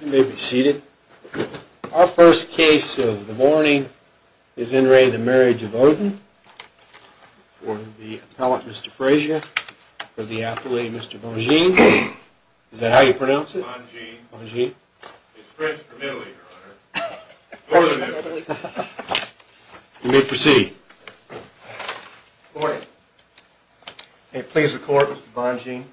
You may be seated. Our first case of the morning is in re the Marriage of Oden for the appellate Mr. Frazier, for the appellate Mr. Bonjean. Is that how you pronounce it? Bonjean. Bonjean. It's French for millie, your honor. For the millie. You may proceed. Good morning. May it please the court, Mr. Bonjean.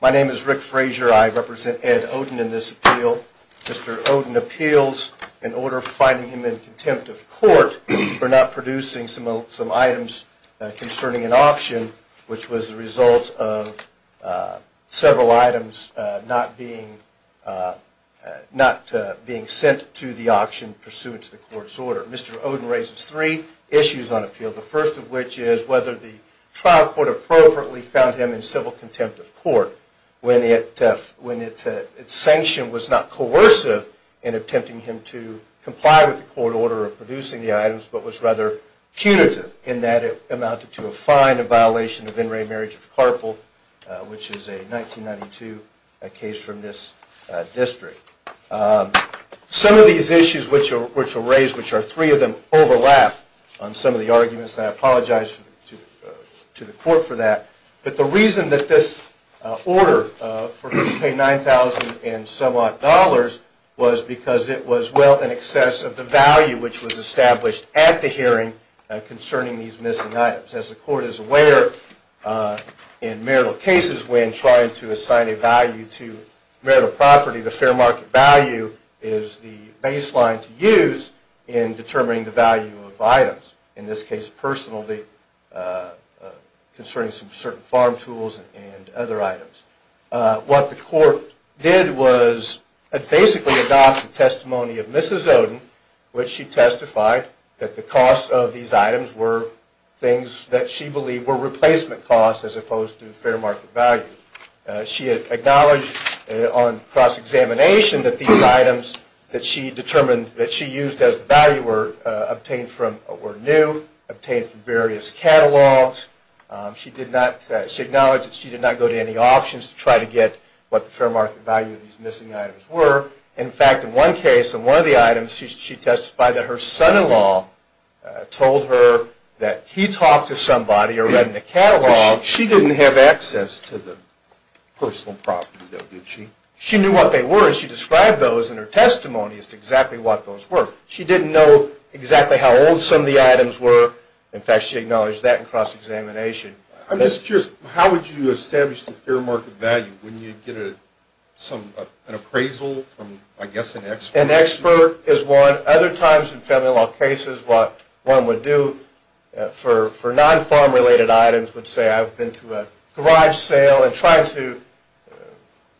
My name is Rick Frazier. I represent Ed Oden in this appeal. Mr. Oden appeals an order finding him in contempt of court for not producing some items concerning an auction which was the result of several items not being sent to the auction pursuant to the court's order. Mr. Oden raises three issues on appeal. The first of which is whether the trial court appropriately found him in civil contempt of court when its sanction was not coercive in attempting him to comply with the court order of producing the items, but was rather punitive in that it amounted to a fine, a violation of in re marriage of the carpel, which is a 1992 case from this district. Some of these issues which are raised, which are three of them, overlap on some of the arguments, and I apologize to the court for that. But the reason that this order for him to pay $9,000 and somewhat was because it was well in excess of the value which was established at the hearing concerning these missing items. As the court is aware, in marital cases when trying to assign a value to marital property, the fair market value is the baseline to use in determining the value of items, in this case personally concerning some certain farm tools and other items. What the court did was basically adopt the testimony of Mrs. Oden, which she testified that the cost of these items were things that she believed were replacement costs as opposed to fair market value. She had acknowledged on cross-examination that these items that she used as the value were new, obtained from various catalogs. She acknowledged that she did not go to any auctions to try to get what the fair market value of these missing items were. In fact, in one case, in one of the items, she testified that her son-in-law told her that he talked to somebody or read in a catalog. She didn't have access to the personal property, though, did she? She knew what they were, and she described those in her testimony as to exactly what those were. She didn't know exactly how old some of the items were. In fact, she acknowledged that in cross-examination. I'm just curious, how would you establish the fair market value when you get an appraisal from, I guess, an expert? An expert is one. Other times in family law cases, what one would do for non-farm related items would say, I've been to a garage sale, and try to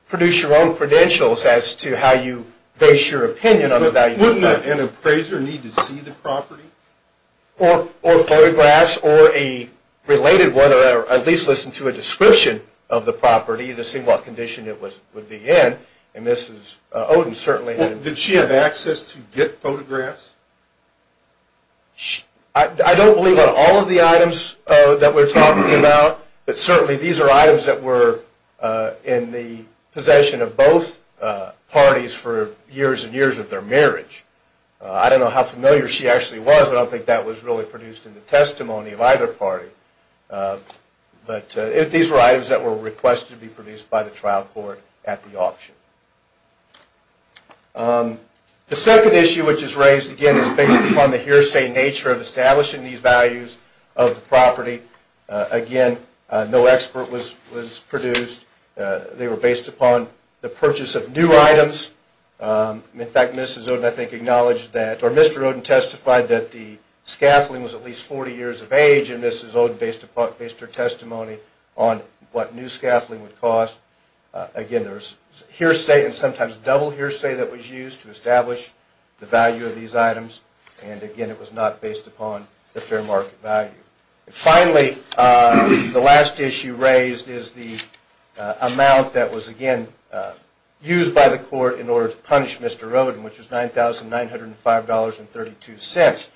produce your own credentials as to how you base your opinion on the value of the items. Wouldn't an appraiser need to see the property? Or photographs, or a related one, or at least listen to a description of the property to see what condition it would be in. And Mrs. Oden certainly had... Did she have access to get photographs? I don't believe on all of the items that we're talking about, but certainly these are items that were in the possession of both parties for years and years of their marriage. I don't know how familiar she actually was, but I don't think that was really produced in the testimony of either party. But these were items that were requested to be produced by the trial court at the auction. The second issue which is raised, again, is based upon the hearsay nature of establishing these values of the property. Again, no expert was produced. They were based upon the purchase of new items. In fact, Mrs. Oden, I think, acknowledged that... Or Mr. Oden testified that the scaffolding was at least 40 years of age, and Mrs. Oden based her testimony on what new scaffolding would cost. Again, there was hearsay, and sometimes double hearsay, that was used to establish the value of these items. And again, it was not based upon the fair market value. Finally, the last issue raised is the amount that was, again, used by the court in order to punish Mr. Oden, which was $9,905.32.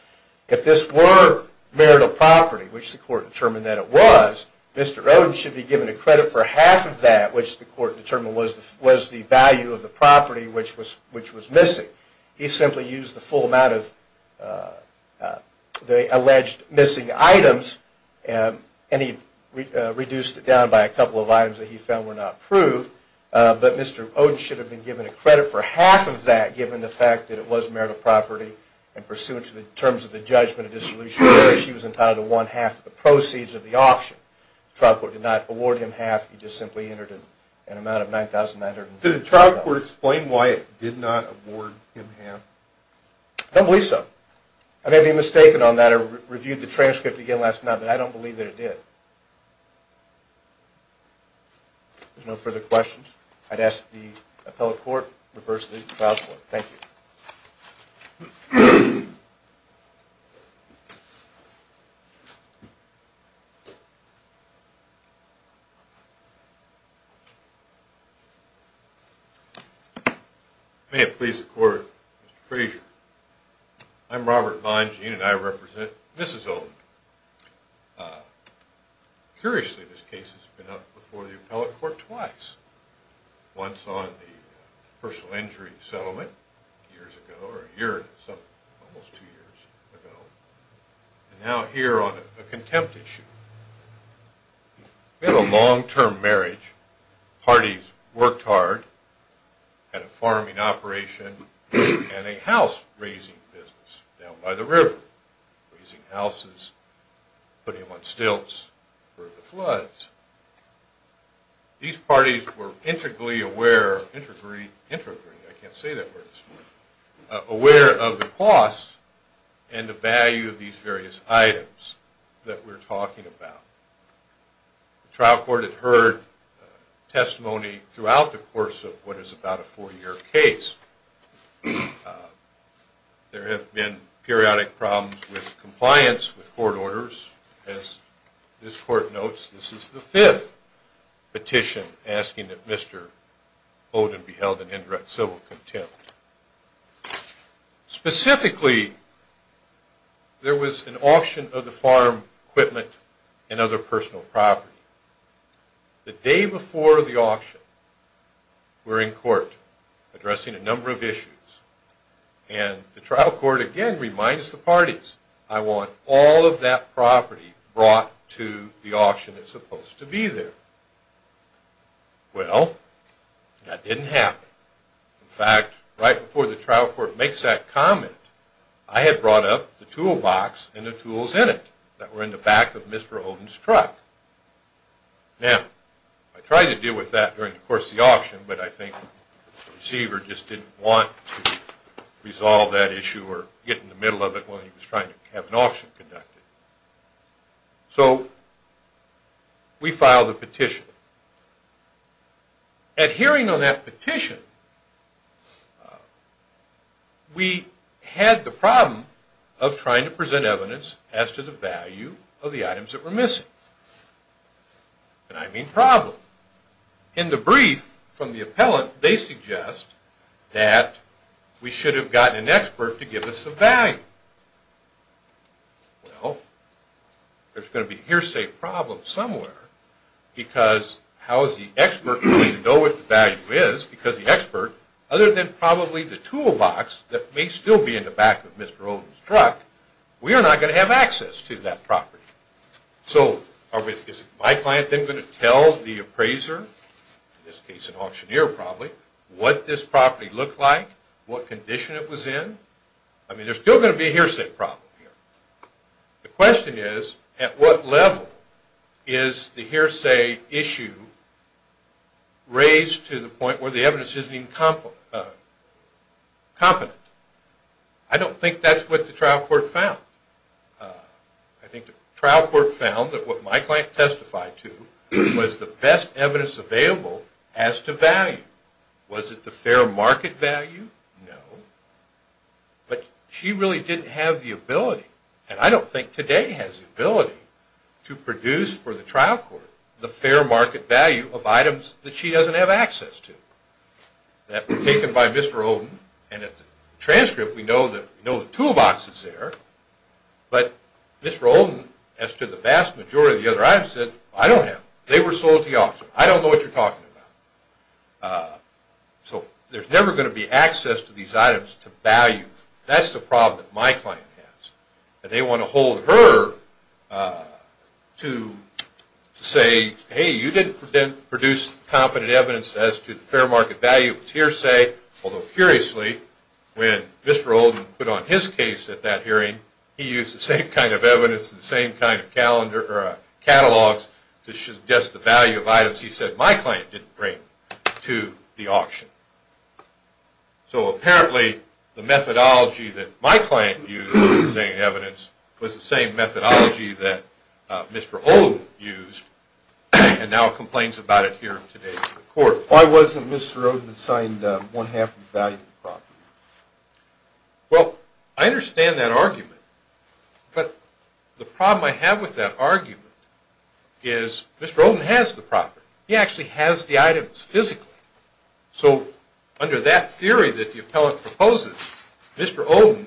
If this were marital property, which the court determined that it was, Mr. Oden should be given a credit for half of that, which the court determined was the value of the property which was missing. He simply used the full amount of the alleged missing items, and he reduced it down by a couple of items that he found were not proved. But Mr. Oden should have been given a credit for half of that, given the fact that it was marital property, and pursuant to the terms of the judgment of disillusionment, he was entitled to one-half of the proceeds of the auction. The trial court did not award him half. He just simply entered an amount of $9,900. Did the trial court explain why it did not award him half? I don't believe so. I may be mistaken on that. I reviewed the transcript again last night, but I don't believe that it did. If there's no further questions, I'd ask the appellate court to reverse the trial court. Thank you. May it please the court, Mr. Frazier. I'm Robert Monjean, and I represent Mrs. Oden. Curiously, this case has been up before the appellate court twice, once on the personal injury settlement years ago, or a year, almost two years ago, and now here on a contempt issue. We had a long-term marriage. Parties worked hard, had a farming operation, and a house-raising business down by the river, raising houses, putting them on stilts for the floods. These parties were intricately aware of the costs and the value of these various items that we're talking about. The trial court had heard testimony throughout the course of what is about a four-year case. There have been periodic problems with compliance with court orders. As this court notes, this is the fifth petition asking that Mr. Oden be held in indirect civil contempt. Specifically, there was an auction of the farm equipment and other personal property. The day before the auction, we're in court addressing a number of issues, and the trial court again reminds the parties, I want all of that property brought to the auction that's supposed to be there. Well, that didn't happen. In fact, right before the trial court makes that comment, I had brought up the toolbox and the tools in it that were in the back of Mr. Oden's truck. Now, I tried to deal with that during the course of the auction, but I think the receiver just didn't want to resolve that issue or get in the middle of it while he was trying to have an auction conducted. So, we filed a petition. Adhering on that petition, we had the problem of trying to present evidence as to the value of the items that were missing. And I mean problem. In the brief from the appellant, they suggest that we should have gotten an expert to give us the value. Well, there's going to be hearsay problems somewhere because how is the expert going to know what the value is? Because the expert, other than probably the toolbox that may still be in the back of Mr. Oden's truck, we are not going to have access to that property. So, is my client then going to tell the appraiser, in this case an auctioneer probably, what this property looked like, what condition it was in? I mean, there's still going to be a hearsay problem here. The question is, at what level is the hearsay issue raised to the point where the evidence isn't even competent? I don't think that's what the trial court found. I think the trial court found that what my client testified to was the best evidence available as to value. Was it the fair market value? No. But she really didn't have the ability, and I don't think today has the ability, to produce for the trial court the fair market value of items that she doesn't have access to. That was taken by Mr. Oden, and at the transcript we know the toolbox is there, but Mr. Oden, as to the vast majority of the other items, said, I don't have them. They were sold to the auction. I don't know what you're talking about. So there's never going to be access to these items to value. That's the problem that my client has. And they want to hold her to say, hey, you didn't produce competent evidence as to the fair market value of this hearsay. Although, curiously, when Mr. Oden put on his case at that hearing, he used the same kind of evidence and the same kind of catalogs to suggest the value of items. He said, my client didn't bring to the auction. So apparently, the methodology that my client used in presenting evidence was the same methodology that Mr. Oden used, and now he complains about it here in today's court. Why wasn't Mr. Oden assigned one half of the value of the property? Well, I understand that argument, but the problem I have with that argument is Mr. Oden has the property. He actually has the items physically. So under that theory that the appellate proposes, Mr. Oden,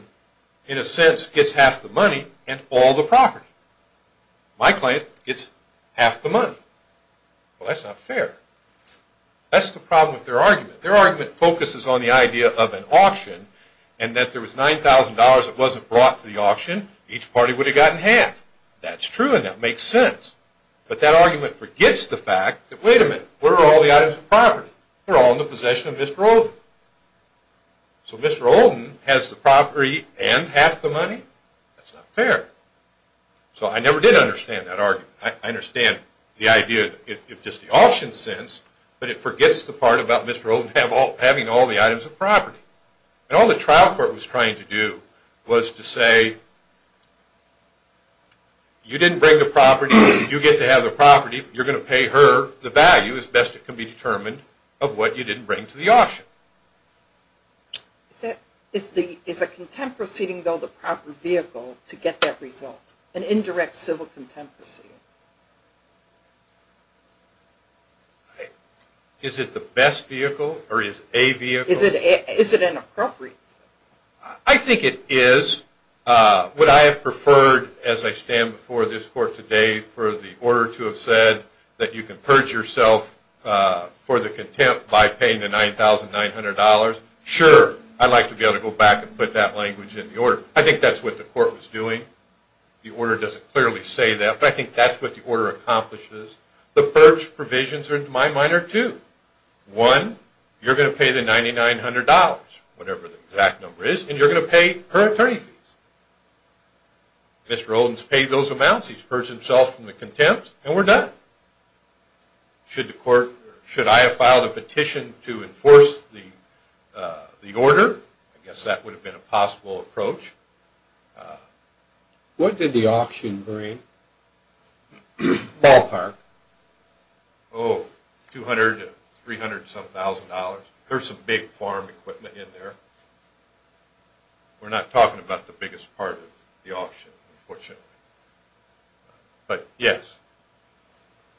in a sense, gets half the money and all the property. My client gets half the money. Well, that's not fair. That's the problem with their argument. Their argument focuses on the idea of an auction and that if there was $9,000 that wasn't brought to the auction, each party would have gotten half. That's true and that makes sense, but that argument forgets the fact that, wait a minute, where are all the items of property? They're all in the possession of Mr. Oden. So Mr. Oden has the property and half the money? That's not fair. So I never did understand that argument. I understand the idea of just the auction sense, but it forgets the part about Mr. Oden having all the items of property. All the trial court was trying to do was to say, you didn't bring the property, you get to have the property, you're going to pay her the value as best it can be determined of what you didn't bring to the auction. Is a contemporary seating bill the proper vehicle to get that result, an indirect civil contemporary seating bill? Is it the best vehicle or is it a vehicle? Is it inappropriate? I think it is. Would I have preferred, as I stand before this court today, for the order to have said that you can purge yourself for the contempt by paying the $9,900? Sure, I'd like to be able to go back and put that language in the order. I think that's what the court was doing. The order doesn't clearly say that, but I think that's what the order accomplishes. The purge provisions are in my mind are two. One, you're going to pay the $9,900, whatever the exact number is, and you're going to pay her attorney fees. Mr. Oden's paid those amounts, he's purged himself from the contempt, Should I have filed a petition to enforce the order? I guess that would have been a possible approach. What did the auction bring, ballpark? Oh, $200,000 to $300,000. There's some big farm equipment in there. We're not talking about the biggest part of the auction, unfortunately. But, yes.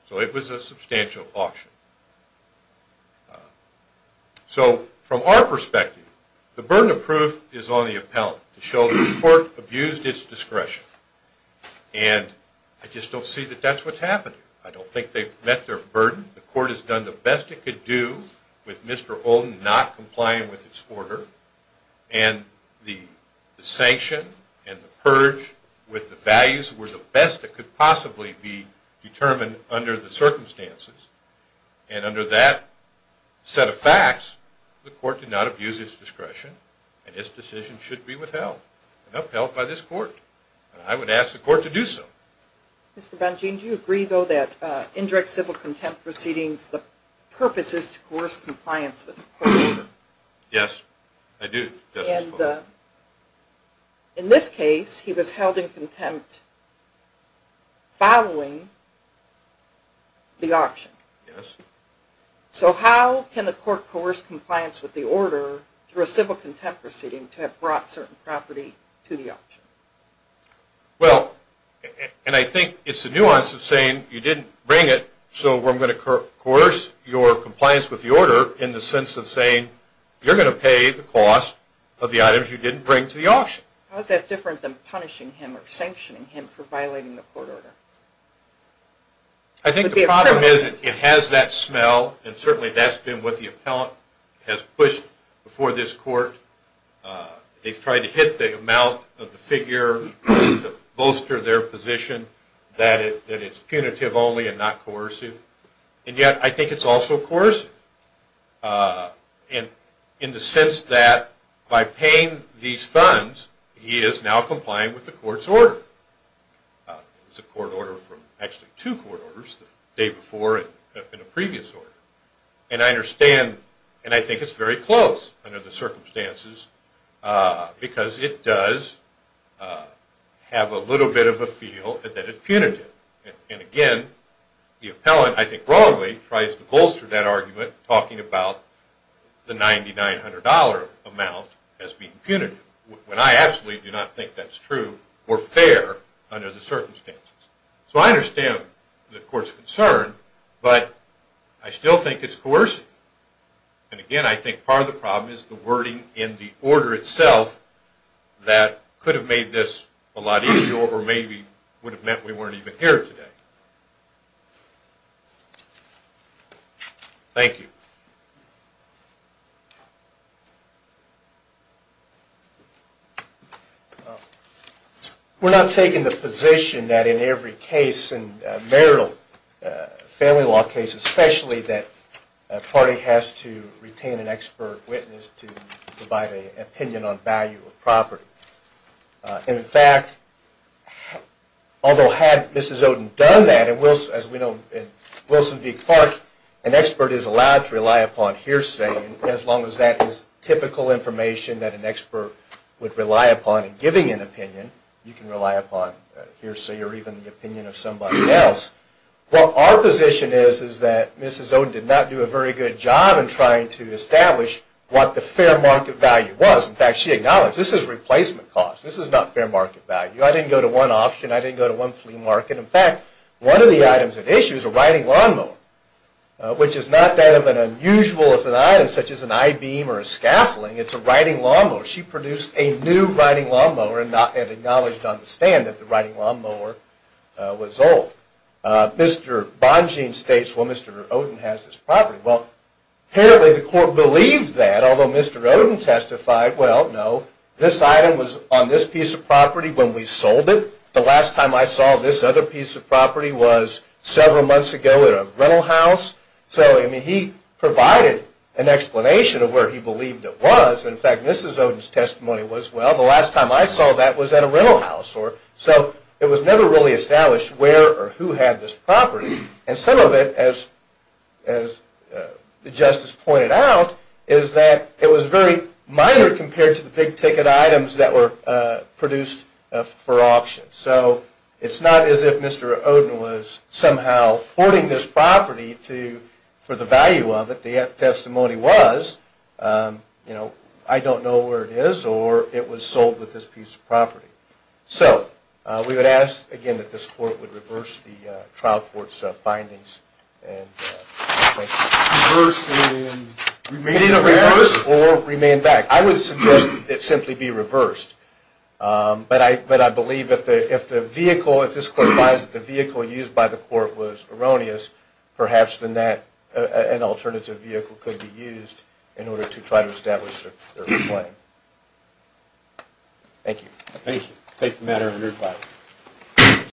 So it was a substantial auction. So, from our perspective, the burden of proof is on the appellant to show that the court abused its discretion. And I just don't see that that's what's happening. I don't think they've met their burden. The court has done the best it could do with Mr. Oden not complying with its order. And the sanction and the purge with the values were the best it could possibly be determined under the circumstances. And under that set of facts, the court did not abuse its discretion, and its decision should be withheld and upheld by this court. And I would ask the court to do so. Mr. Bongean, do you agree, though, that indirect civil contempt proceedings, the purpose is to coerce compliance with the court's order? Yes, I do. In this case, he was held in contempt following the auction. Yes. So how can the court coerce compliance with the order through a civil contempt proceeding to have brought certain property to the auction? Well, and I think it's a nuance of saying you didn't bring it, so I'm going to coerce your compliance with the order in the sense of saying you're going to pay the cost of the items you didn't bring to the auction. How is that different than punishing him or sanctioning him for violating the court order? I think the problem is it has that smell, and certainly that's been what the appellant has pushed before this court. They've tried to hit the amount of the figure to bolster their position that it's punitive only and not coercive. And yet I think it's also coercive in the sense that by paying these funds, he is now complying with the court's order. It's a court order from actually two court orders, the day before and a previous order. And I understand, and I think it's very close under the circumstances, because it does have a little bit of a feel that it's punitive. And again, the appellant, I think wrongly, tries to bolster that argument, talking about the $9,900 amount as being punitive, when I absolutely do not think that's true or fair under the circumstances. So I understand the court's concern, but I still think it's coercive. And again, I think part of the problem is the wording in the order itself that could have made this a lot easier or maybe would have meant we weren't even here today. Thank you. We're not taking the position that in every case, in a marital family law case especially, that a party has to retain an expert witness to provide an opinion on value of property. And in fact, although had Mrs. Oden done that, and as we know in Wilson v. Clark, an expert is allowed to rely upon hearsay, as long as that is typical information that an expert would rely upon in giving an opinion, you can rely upon hearsay or even the opinion of somebody else. What our position is, is that Mrs. Oden did not do a very good job in trying to establish what the fair market value was. In fact, she acknowledged this is replacement cost. This is not fair market value. I didn't go to one option. I didn't go to one flea market. In fact, one of the items at issue is a riding lawnmower, which is not that of an unusual of an item such as an I-beam or a scaffolding. It's a riding lawnmower. She produced a new riding lawnmower and acknowledged on the stand that the riding lawnmower was old. Mr. Bonjean states, well, Mr. Oden has this property. Well, apparently the court believed that, although Mr. Oden testified, well, no, this item was on this piece of property when we sold it. The last time I saw this other piece of property was several months ago at a rental house. So, I mean, he provided an explanation of where he believed it was. In fact, Mrs. Oden's testimony was, well, the last time I saw that was at a rental house. So it was never really established where or who had this property. And some of it, as the justice pointed out, is that it was very minor compared to the big ticket items that were produced for auction. So it's not as if Mr. Oden was somehow hoarding this property for the value of it. The testimony was, you know, I don't know where it is or it was sold with this piece of property. Thank you. So, we would ask, again, that this court would reverse the trial court's findings. Reverse and remain aware? Or remain back. I would suggest it simply be reversed. But I believe if the vehicle, if this court finds that the vehicle used by the court was erroneous, perhaps an alternative vehicle could be used in order to try to establish their claim. Thank you. Thank you. I take the matter under advice.